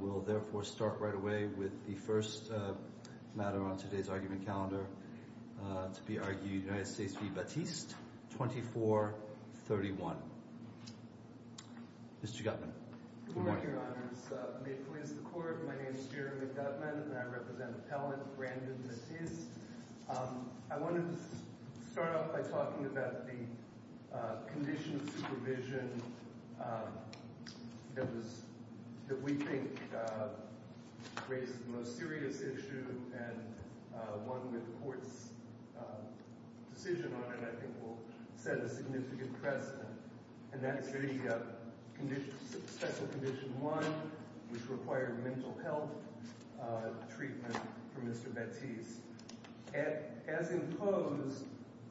will therefore start right away with the first matter on today's argument calendar to be argued United States v. Batiste 2431. Mr. Gutman. Good morning, Your Honors. May it please the Court, my name is Jeremy Gutman and I represent Appellant Brandon Batiste. I wanted to start off by talking about the condition of supervision that we think raises the most serious issue and one that the Court's decision on it, I think, will set a significant precedent. And that is the Special Condition 1, which required mental health treatment for Mr. Batiste. As imposed,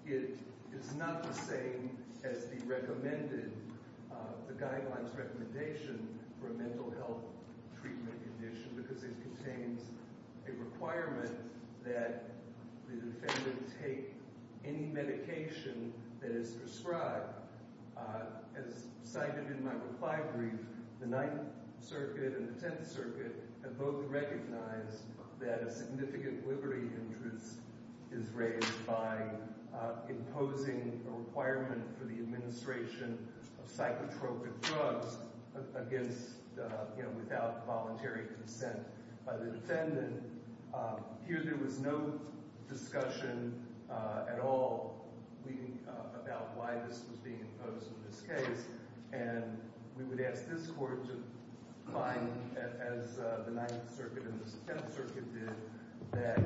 it is not the same as the guidelines recommendation for a mental health treatment condition because it contains a requirement that the defendant take any medication that is prescribed. As cited in my reply brief, the Ninth Circuit and the Tenth Circuit have both recognized that a significant liberty interest is raised by imposing a requirement for the administration of psychotropic drugs without voluntary consent by the defendant. Here there was no discussion at all about why this was being imposed in this case and we would ask this Court to find, as the Ninth Circuit and the Tenth Circuit did, that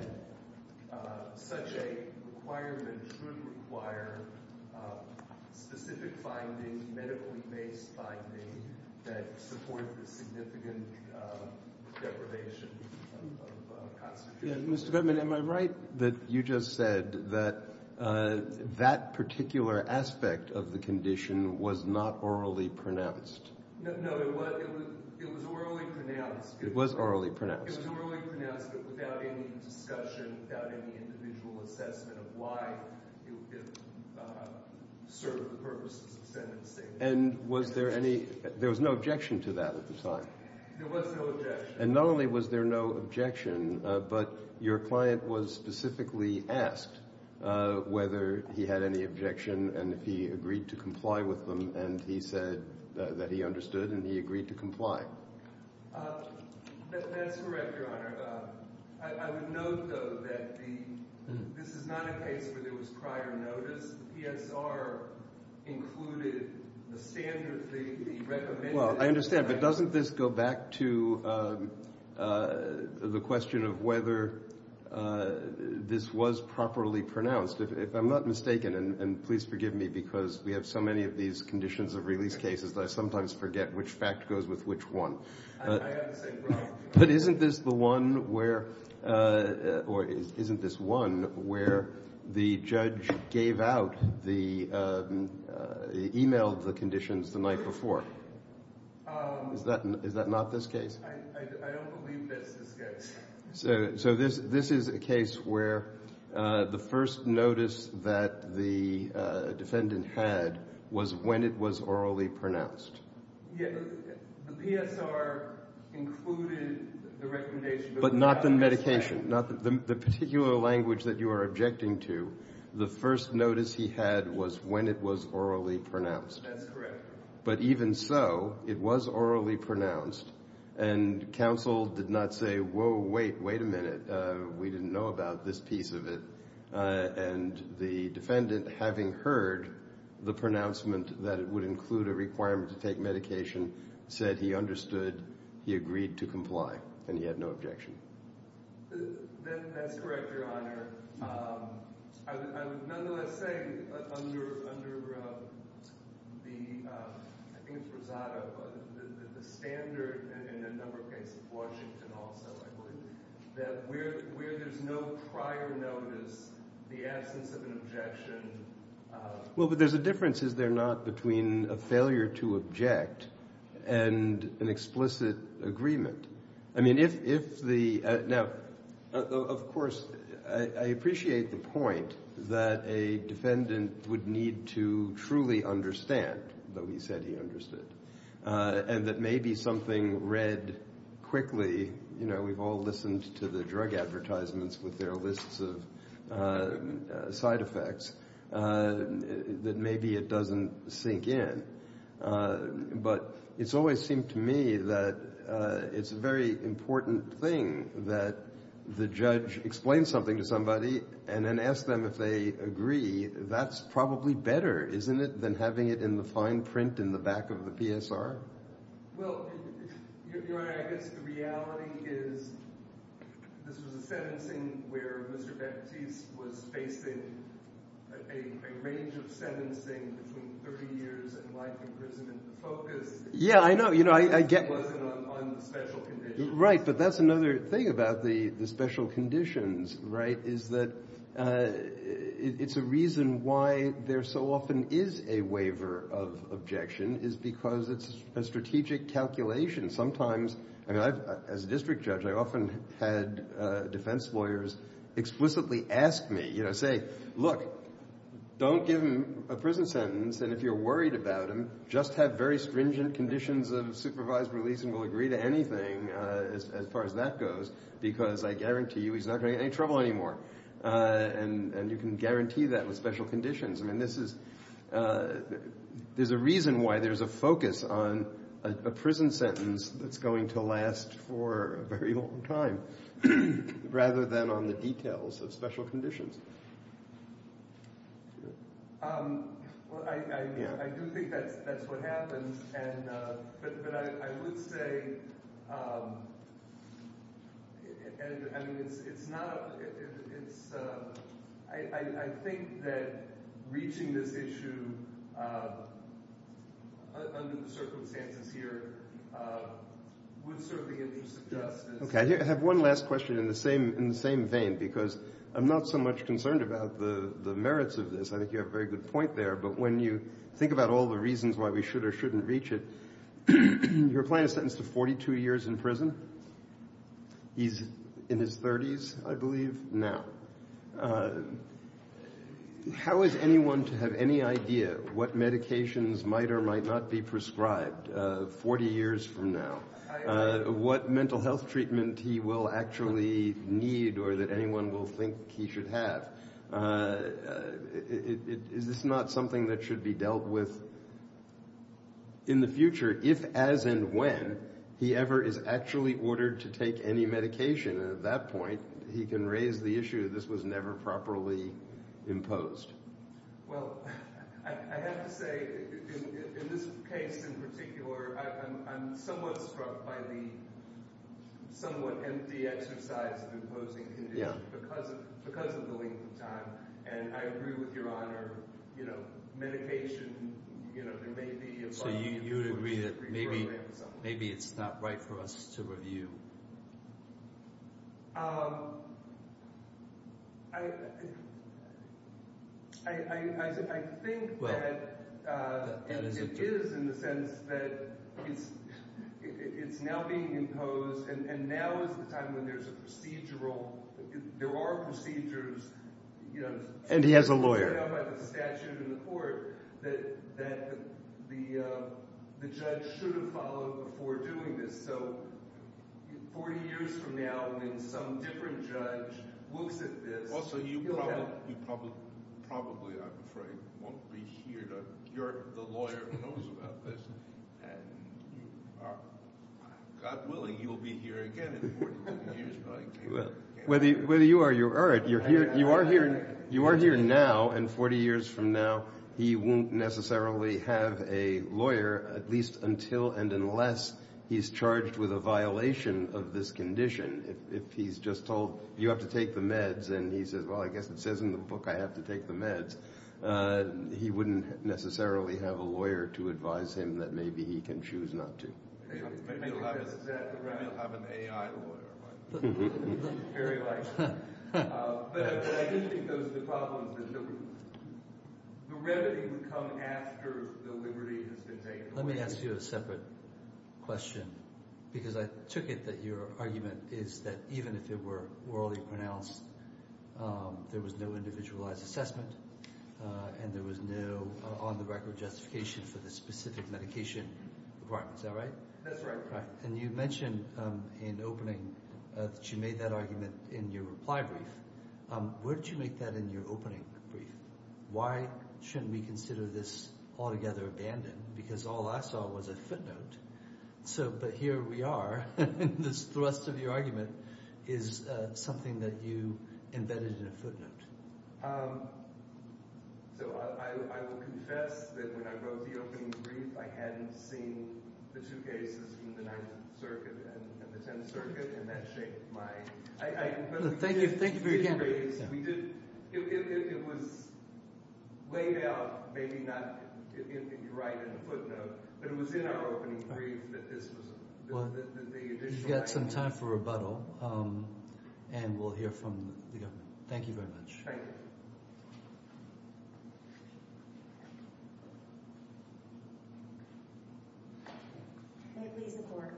such a requirement should require specific findings, medically based findings, that support the significant deprivation of constitutional liberty. Mr. Gutman, am I right that you just said that that particular aspect of the condition was not orally pronounced? No, it was orally pronounced. It was orally pronounced. It was orally pronounced but without any discussion, without any individual assessment of why it served the purposes of sentencing. And was there any, there was no objection to that at the time? There was no objection. And not only was there no objection, but your client was specifically asked whether he had any objection and if he agreed to comply with them and he said that he understood and he agreed to comply. That's correct, Your Honor. I would note, though, that this is not a case where there was prior notice. The PSR included the standard, the recommendation. Well, I understand, but doesn't this go back to the question of whether this was properly pronounced? If I'm not mistaken, and please forgive me because we have so many of these conditions of release cases that I sometimes forget which fact goes with which one. I have the same problem. But isn't this the one where, or isn't this one where the judge gave out the, emailed the conditions the night before? Is that not this case? I don't believe that's this case. So this is a case where the first notice that the defendant had was when it was orally pronounced. The PSR included the recommendation. But not the medication. The particular language that you are objecting to, the first notice he had was when it was orally pronounced. That's correct. But even so, it was orally pronounced. And counsel did not say, whoa, wait, wait a minute. We didn't know about this piece of it. And the defendant, having heard the pronouncement that it would include a requirement to take medication, said he understood, he agreed to comply, and he had no objection. That's correct, Your Honor. I would nonetheless say under the, I think it's Rosado, but the standard in a number of cases, Washington also, I believe, that where there's no prior notice, the absence of an objection. Well, but there's a difference, is there not, between a failure to object and an explicit agreement? I mean, if the, now, of course, I appreciate the point that a defendant would need to truly understand that we said he understood. And that maybe something read quickly, you know, we've all listened to the drug advertisements with their lists of side effects, that maybe it doesn't sink in. But it's always seemed to me that it's a very important thing that the judge explains something to somebody and then asks them if they agree. That's probably better, isn't it, than having it in the fine print in the back of the PSR? Well, Your Honor, I guess the reality is this was a sentencing where Mr. Baptiste was facing a range of sentencing between 30 years and life imprisonment, the focus... Yeah, I know, you know, I get... ...wasn't on special conditions. Right, but that's another thing about the special conditions, right, is that it's a reason why there so often is a waiver of objection is because it's a strategic calculation. Sometimes, I mean, as a district judge, I often had defense lawyers explicitly ask me, you know, hey, look, don't give him a prison sentence, and if you're worried about him, just have very stringent conditions of supervised release and we'll agree to anything as far as that goes because I guarantee you he's not going to get any trouble anymore. And you can guarantee that with special conditions. I mean, this is... There's a reason why there's a focus on a prison sentence that's going to last for a very long time rather than on the details of special conditions. Well, I do think that's what happens, but I would say... I mean, it's not... I think that reaching this issue under the circumstances here would serve the interests of justice. I have one last question in the same vein because I'm not so much concerned about the merits of this. I think you have a very good point there, but when you think about all the reasons why we should or shouldn't reach it, you're applying a sentence to 42 years in prison. He's in his 30s, I believe, now. How is anyone to have any idea what medications might or might not be prescribed 40 years from now? What mental health treatment he will actually need or that anyone will think he should have? Is this not something that should be dealt with in the future if, as and when, he ever is actually ordered to take any medication? And at that point, he can raise the issue that this was never properly imposed. Well, I have to say, in this case in particular, I'm somewhat struck by the somewhat empty exercise of imposing conditions because of the length of time. And I agree with Your Honour, medication, you know, there may be... So you agree that maybe it's not right for us to review? I think that it is, in a sense, that it's now being imposed and now is the time when there's a procedural... There are procedures... And he has a lawyer. ...by the statute in the court that the judge should have followed before doing this. So 40 years from now, when some different judge looks at this... Also, you probably, I'm afraid, won't be here to... You're the lawyer who knows about this. And you are... God willing, you'll be here again in 40 years. Whether you are or you aren't, you are here now, and 40 years from now, he won't necessarily have a lawyer, at least until and unless he's charged with a violation of this condition. If he's just told, you have to take the meds, and he says, well, I guess it says in the book I have to take the meds, he wouldn't necessarily have a lawyer to advise him that maybe he can choose not to. Maybe he'll have an A.I. lawyer. But I do think those are the problems that the remedy would come after the liberty has been taken. Let me ask you a separate question because I took it that your argument is that even if it were orally pronounced, there was no individualized assessment. And there was no on-the-record justification for the specific medication requirements. Is that right? That's right. And you mentioned in opening that you made that argument in your reply brief. Where did you make that in your opening brief? Why shouldn't we consider this altogether abandoned? Because all I saw was a footnote. But here we are, and this thrust of your argument is something that you embedded in a footnote. So I will confess that when I wrote the opening brief, I hadn't seen the two cases from the Ninth Circuit and the Tenth Circuit, and that shaped my... Thank you very much. It was laid out, maybe not right in the footnote, but it was in our opening brief that this was... You've got some time for rebuttal, and we'll hear from the government. Thank you very much. Thank you. May it please the Court.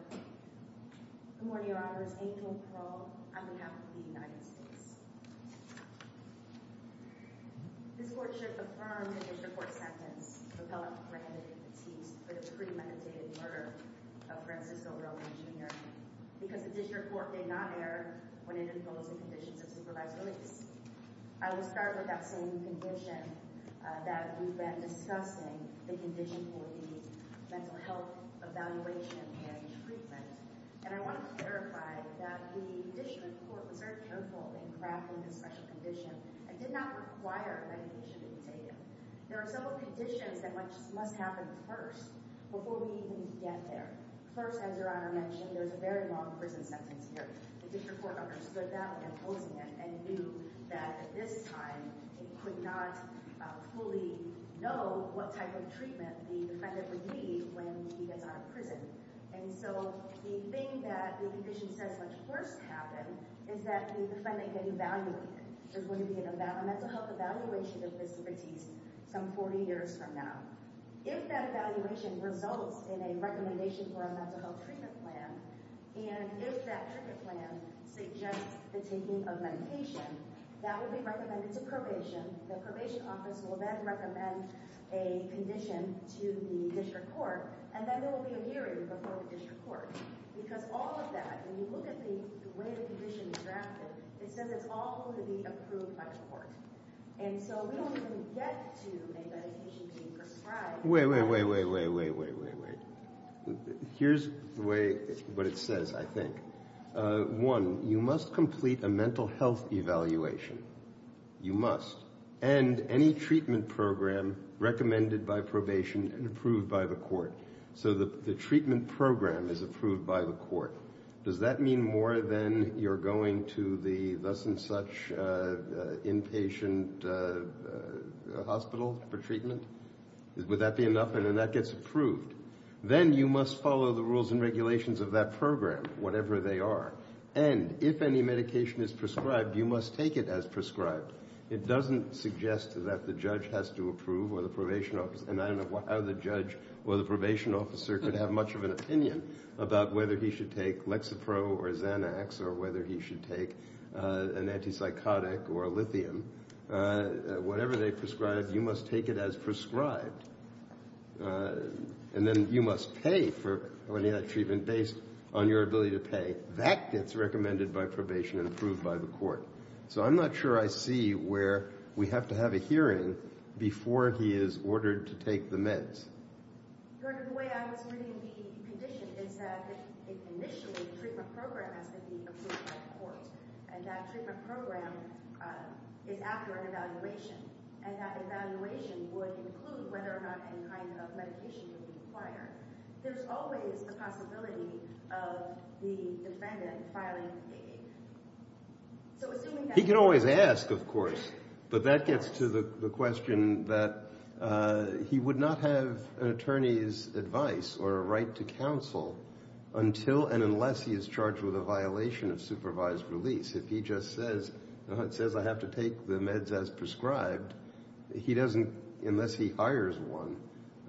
Good morning, Your Honors. Angel Pearl on behalf of the United States. This Court should affirm the District Court's sentence for pellet-preheated teats for the premeditated murder of Frances O'Reilly, Jr., because the District Court did not err when it imposed the conditions of supervised release. I will start with that same condition that we've been discussing, the condition for the mental health evaluation and treatment. And I want to clarify that the District Court was very careful in crafting this special condition and did not require medication to be taken. There are several conditions that must happen first before we even get there. First, as Your Honor mentioned, there's a very long prison sentence here. The District Court understood that when imposing it and knew that at this time it could not fully know what type of treatment the defendant would need when he gets out of prison. And so the thing that the condition says must first happen is that the defendant gets evaluated. There's going to be a mental health evaluation of this case some 40 years from now. If that evaluation results in a recommendation for a mental health treatment plan and if that treatment plan suggests the taking of medication, that will be recommended to probation. The probation office will then recommend a condition to the District Court, and then there will be a hearing before the District Court. Because all of that, when you look at the way the condition is drafted, it says it's all going to be approved by the court. And so we don't even get to a medication being prescribed. Wait, wait, wait, wait. Here's the way, what it says, I think. One, you must complete a mental health evaluation. You must. And any treatment program recommended by probation and approved by the court. So the treatment program is approved by the court. Does that mean more than you're going to the thus and such inpatient hospital for treatment? Would that be enough? And then that gets approved. Then you must follow the rules and regulations of that program, whatever they are. And if any medication is prescribed, you must take it as prescribed. It doesn't suggest that the judge has to approve or the probation officer, and I don't know how the judge or the probation officer could have much of an opinion about whether he should take Lexapro or Xanax or whether he should take an antipsychotic or a lithium. Whatever they prescribe, you must take it as And then you must pay for any of that treatment based on your ability to pay. That gets recommended by probation and approved by the court. So I'm not sure I see where we have to have a hearing before he is ordered to take the meds. He can always ask, of course. But that gets to the question that he would not have an attorney's advice or a right to counsel until and unless he is charged with a violation of supervised release. If he just says, I have to take the meds as prescribed, unless he hires one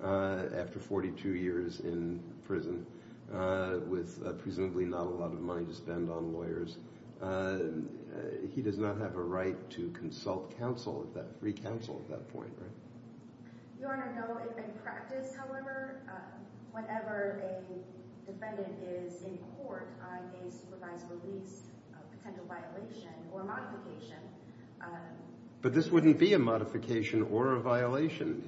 after 42 years in prison with presumably not a lot of money to spend on lawyers, he does not have a right to consult counsel at that point. But this wouldn't be a modification or a violation.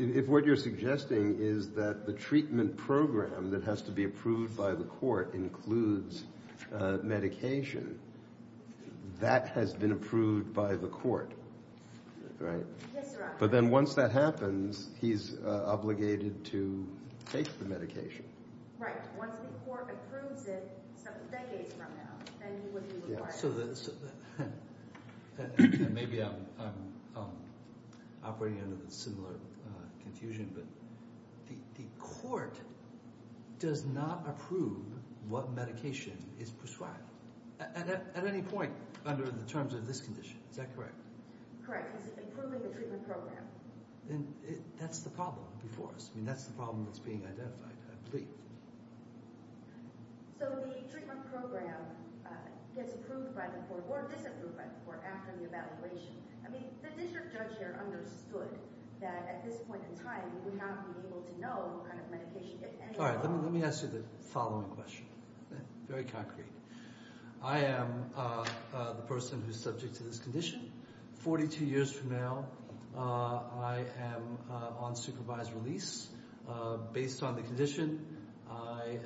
If what you're suggesting is that the treatment program that has to be approved by the court includes medication, that has been approved by the court. But then once that happens, he's obligated to take the medication. Maybe I'm operating under a similar confusion, but the court does not approve what medication is prescribed at any point under the terms of this condition. Is that correct? Correct. It's improving the treatment program. That's the problem before us. That's the problem that's being identified, I believe. So the treatment program gets approved by the court or disapproved by the court after the evaluation. The district judge here understood that at this point in time he would not be able to know what kind of medication if any were on. Let me ask you the following question. Very concrete. I am the person who is subject to this condition. 42 years from now, I am on supervised release. Based on the condition, I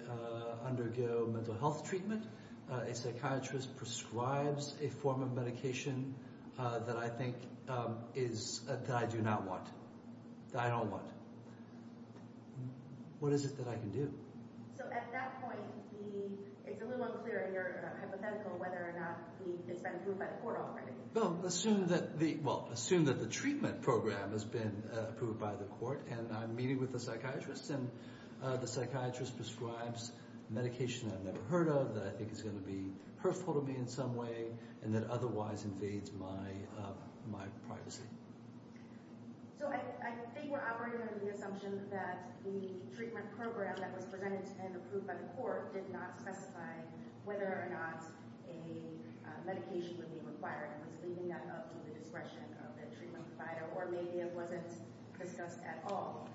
undergo mental health treatment. A psychiatrist prescribes a form of medication that I do not want. That I don't want. What is it that I can do? So at that point, it's a little unclear in your hypothetical whether or not it's been approved by the court already. Assume that the treatment program has been approved by the court and I'm meeting with the psychiatrist and the psychiatrist prescribes medication I've never heard of that I think is going to be hurtful to me in some way and that otherwise invades my privacy. So I think we're operating on the assumption that the treatment program that was presented and approved by the court did not specify whether or not a medication would be required and was leaving that up to the discretion of the treatment provider or maybe it wasn't discussed at all.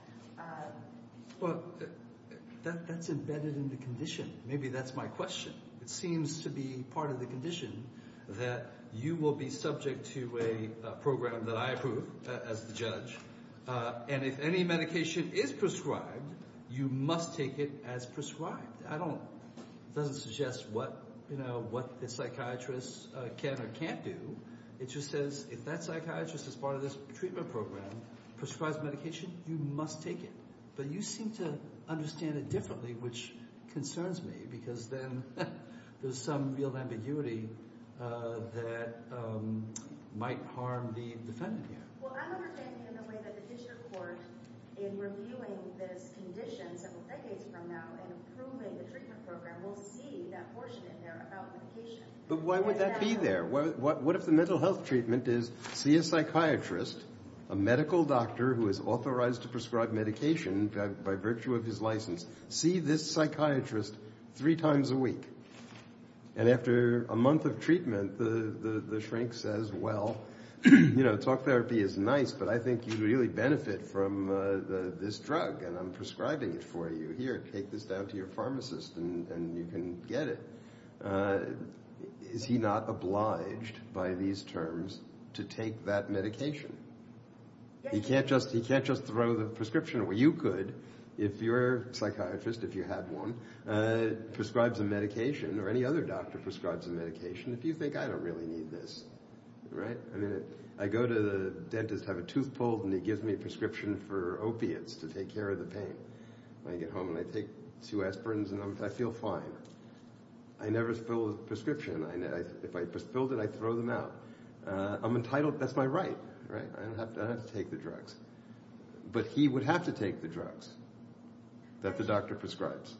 That's embedded in the condition. Maybe that's my question. It seems to be part of the condition that you will be subject to a program that I approve as the judge and if any medication is prescribed you must take it as prescribed. It doesn't suggest what the psychiatrist can or can't do. It just says if that psychiatrist is part of this treatment program prescribes medication, you must take it. But you seem to understand it differently which concerns me because then there's some real ambiguity that might harm the defendant here. But why would that be there? What if the mental health treatment is see a psychiatrist, a medical doctor who is authorized to prescribe medication by virtue of his license, see this psychiatrist three times a week and after a month of treatment the shrink says, well, you know, talk therapy is nice but I think you really benefit from this drug and I'm prescribing it for you. Here, take this down to your pharmacist and you can get it. Is he not obliged by these terms to take that medication? He can't just throw the prescription away. You could if you're a psychiatrist, if you had one, prescribes a medication or any other doctor prescribes a medication if you think, I don't really need this. I go to the dentist, have a tooth pulled and he gives me a prescription for opiates to take care of the pain. I get home and I take two aspirins and I feel fine. I never spill the prescription. If I spilled it, I throw them out. I'm entitled, that's my right. I don't have to take the drugs. But he would have to take the drugs that the doctor prescribes.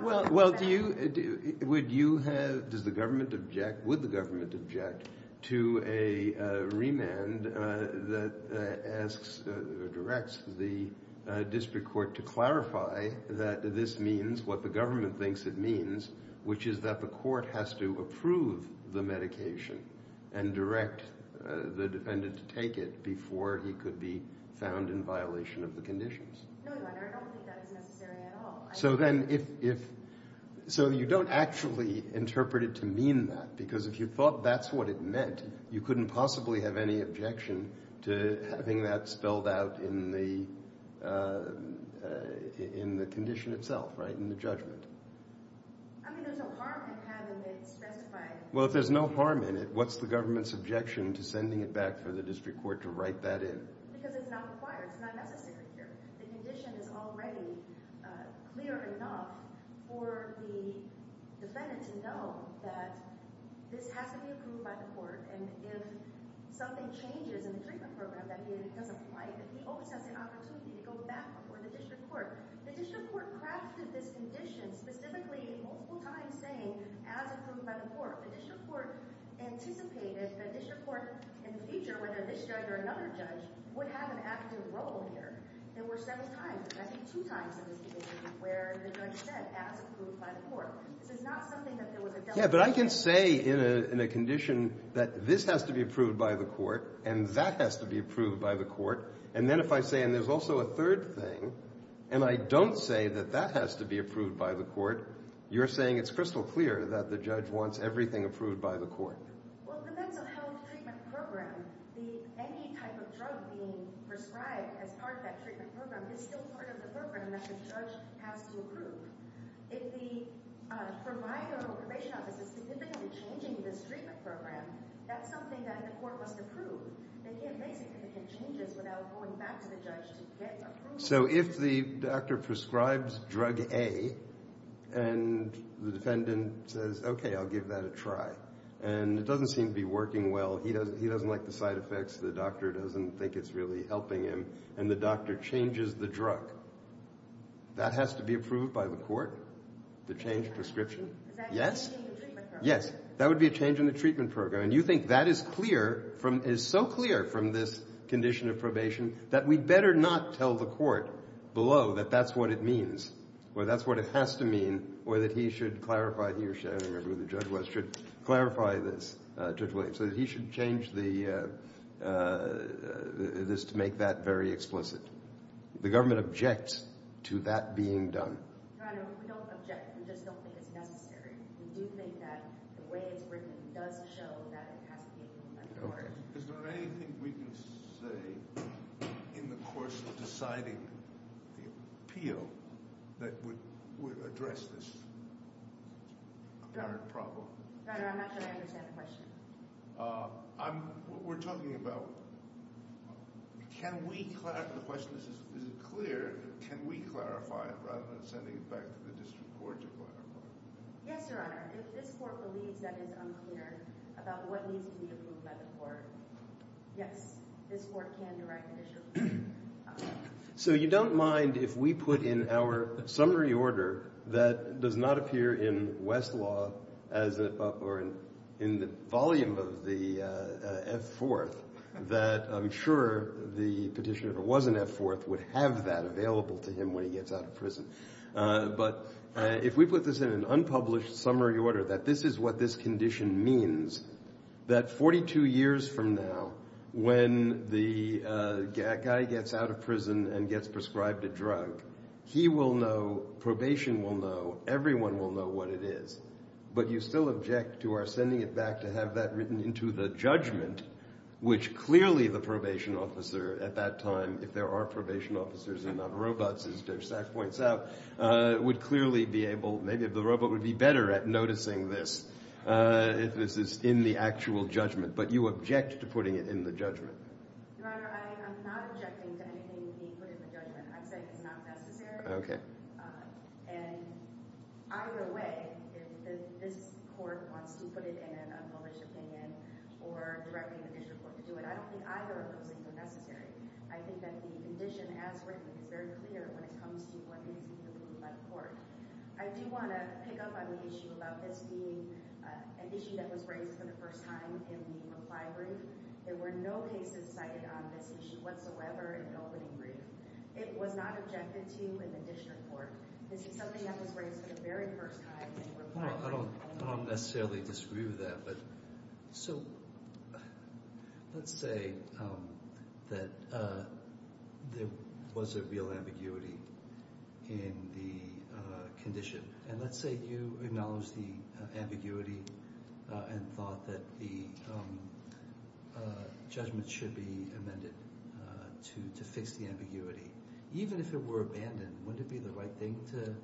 Well, do you would you have, does the government object, would the government object to a remand that asks or directs the district court to clarify that this means, what the government thinks it means, which is that the court has to approve the medication and direct the defendant to take it before he could be found in violation of the conditions. No, I don't think that is necessary at all. So then, if you don't actually interpret it to mean that, because if you thought that's what it meant, you couldn't possibly have any objection to having that spelled out in the condition itself, right, in the judgment. I mean, there's no harm in having it specified. Well, if there's no harm in it, what's the government's objection to sending it back for the district court to write that in? Because it's not required, it's not necessary here. The condition is already clear enough for the defendant to know that this has to be approved by the court, and if something changes in the treatment program that he doesn't like, he always has the opportunity to go back before the district court. The district court crafted this condition specifically multiple times saying, as approved by the court. The district court anticipated the district court in the future, whether this judge or another judge, would have an active role here. There were several times, I think two times in this case, where the judge said, as approved by the court. This is not something that there was a Yeah, but I can say in a condition that this has to be approved by the court, and that has to be approved by the court, and then if I say, and there's also a third thing, and I don't say that that has to be approved by the court, you're saying it's crystal clear that the judge wants everything approved by the court. Well, in the mental health treatment program, any type of drug being prescribed as part of that treatment program is still part of the program that the judge has to approve. If the provider or probation office is significantly changing this treatment program, that's something that the court must approve. They can't make significant changes without going back to the judge to get approval. So if the doctor prescribes drug A, and the defendant says, okay, I'll give that a try, and it doesn't seem to be working well, he doesn't like the side effects, the doctor doesn't think it's really helping him, and the doctor changes the drug, that has to be approved by the court, the changed prescription? Yes? Yes, that would be a change in the treatment program, and you think that is clear, is so clear from this condition of probation, that we'd better not tell the court below that that's what it means, or that's what it has to mean, or that he should clarify, I don't remember who the judge was, should clarify this, Judge Williams, that he should change this to make that very explicit. The government objects to that being done. Your Honor, we don't object, we just don't think it's necessary. We do think that the way it's written does show that it has to be approved by the court. Is there anything we can say in the course of deciding the appeal that would address this apparent problem? Your Honor, I'm not sure I understand the question. We're talking about can we clarify the question, is it clear, can we clarify it, rather than sending it back to the district court to clarify it? Yes, Your Honor, if this court believes that it's unclear about what needs to be approved by the court, yes, this court can direct the district court. So you don't mind if we put in our summary order that does not appear in Westlaw, in the volume of the F-4th, that I'm sure the petitioner that was in F-4th would have that available to him when he gets out of prison. But if we put this in an unpublished summary order, that this is what this condition means, that 42 years from now, when the guy gets out of prison and gets prescribed a drug, he will know, probation will know, everyone will know what it is. But you still object to our sending it back to have that written into the judgment, which clearly the probation officer at that time, if there are probation officers and not robots, as Judge Sack points out, would clearly be able, maybe the robot would be better at noticing this, if this is in the actual judgment. But you object to putting it in the judgment. Your Honor, I'm not objecting to anything being put in the judgment. I'm saying it's not necessary. And either way, if this court wants to put it in an unpublished opinion or direct me to the district court to do it, I don't think either of those things are necessary. I think that the condition as written is very clear when it comes to what needs to be approved by the court. I do want to pick up on the issue about this being an issue that was raised for the first time in the reply brief. There were no cases cited on this issue whatsoever in the opening brief. It was not objected to in the district court. This is something that was raised for the very first time in the reply brief. I don't necessarily disagree with that, but let's say that there was a real ambiguity in the condition. And let's say you acknowledge the ambiguity and thought that the judgment should be amended to fix the ambiguity. Even if it were abandoned, wouldn't it be the right thing to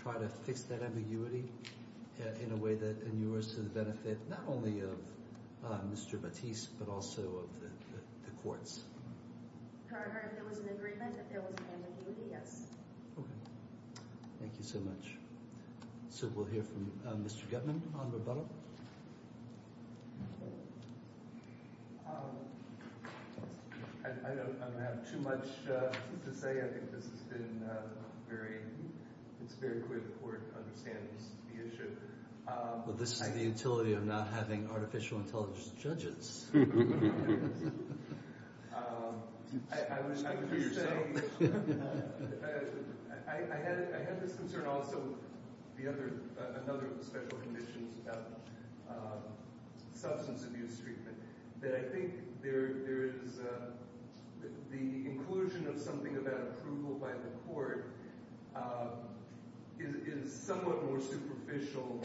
try to fix that ambiguity in a way that inures to the benefit not only of Mr. Batiste, but also of the courts? Your Honor, if there was an agreement, if there was an agreement, yes. Thank you so much. So we'll hear from Mr. Guttman. Honorable Butler. I don't have too much to say. I think this has been a very, it's very important to understand the issue. Well, this is the utility of not having artificial intelligence judges. I have this concern also, another of the special conditions about substance abuse treatment, that I think there is the inclusion of something about approval by the court is somewhat more superficial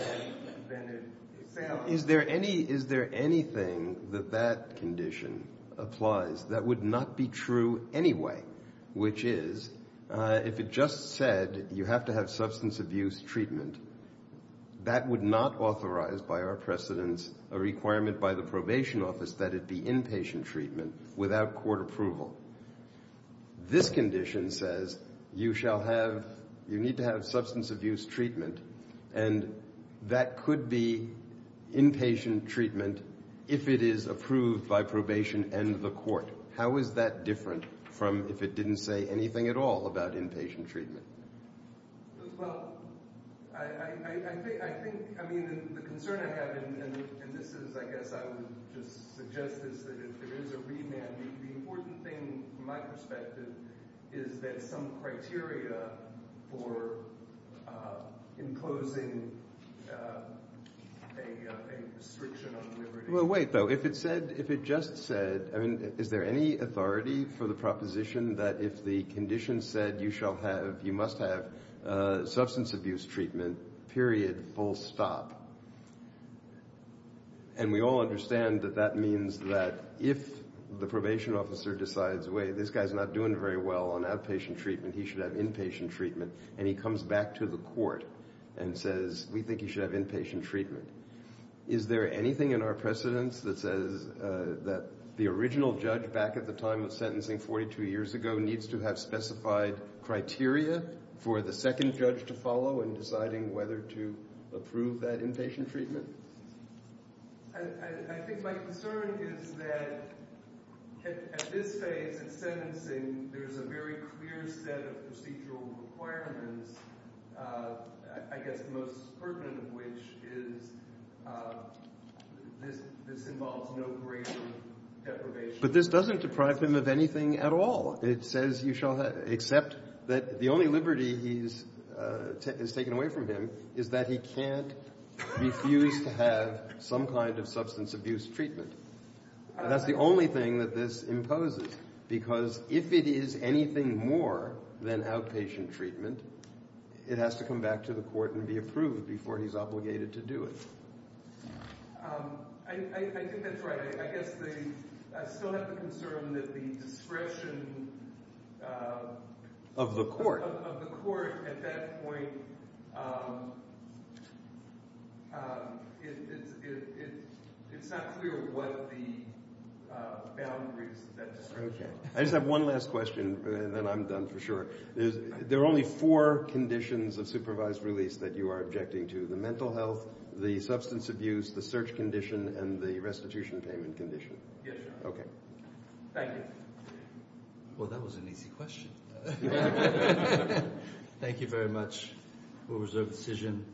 than it sounds. Is there anything that the court says that that condition applies that would not be true anyway, which is if it just said you have to have substance abuse treatment, that would not authorize by our precedents a requirement by the probation office that it be inpatient treatment without court approval. This condition says you shall have, you need to have substance abuse treatment, and that could be inpatient treatment if it is approved by probation and the court. How is that different from if it didn't say anything at all about inpatient treatment? Well, I think, I mean, the concern I have, and this is, I guess I would just suggest this, that if there is a remand, the important thing from my perspective is that some criteria for imposing a restriction on liberty. Well, wait, though. If it said, if it just said, I mean, is there any authority for the proposition that if the condition said you shall have, you must have substance abuse treatment, period, full stop. And we all understand that that means that if the probation officer decides, wait, this guy's not doing very well on outpatient treatment, he should have inpatient treatment, and he comes back to the court and says we think he should have inpatient treatment. Is there anything in our precedence that says that the original judge back at the time of sentencing 42 years ago needs to have specified criteria for the second judge to follow in deciding whether to approve that inpatient treatment? I think my concern is that at this phase of sentencing there's a very clear set of procedural requirements I guess the most pertinent of which is this involves no greater deprivation. But this doesn't deprive him of anything at all. It says you shall accept that the only liberty he's taken away from him is that he can't refuse to have some kind of substance abuse treatment. That's the only thing that this imposes, because if it is anything more than outpatient treatment, it has to come back to the court and be approved before he's obligated to do it. I think that's right. I guess I still have the concern that the discretion of the court at that point it's not clear what the boundaries I just have one last question and then I'm done for sure. There are only four conditions of supervised release that you are objecting to. The mental health, the substance abuse, the search condition and the restitution payment condition. Thank you. Well that was an easy question. Thank you very much. We'll reserve the decision.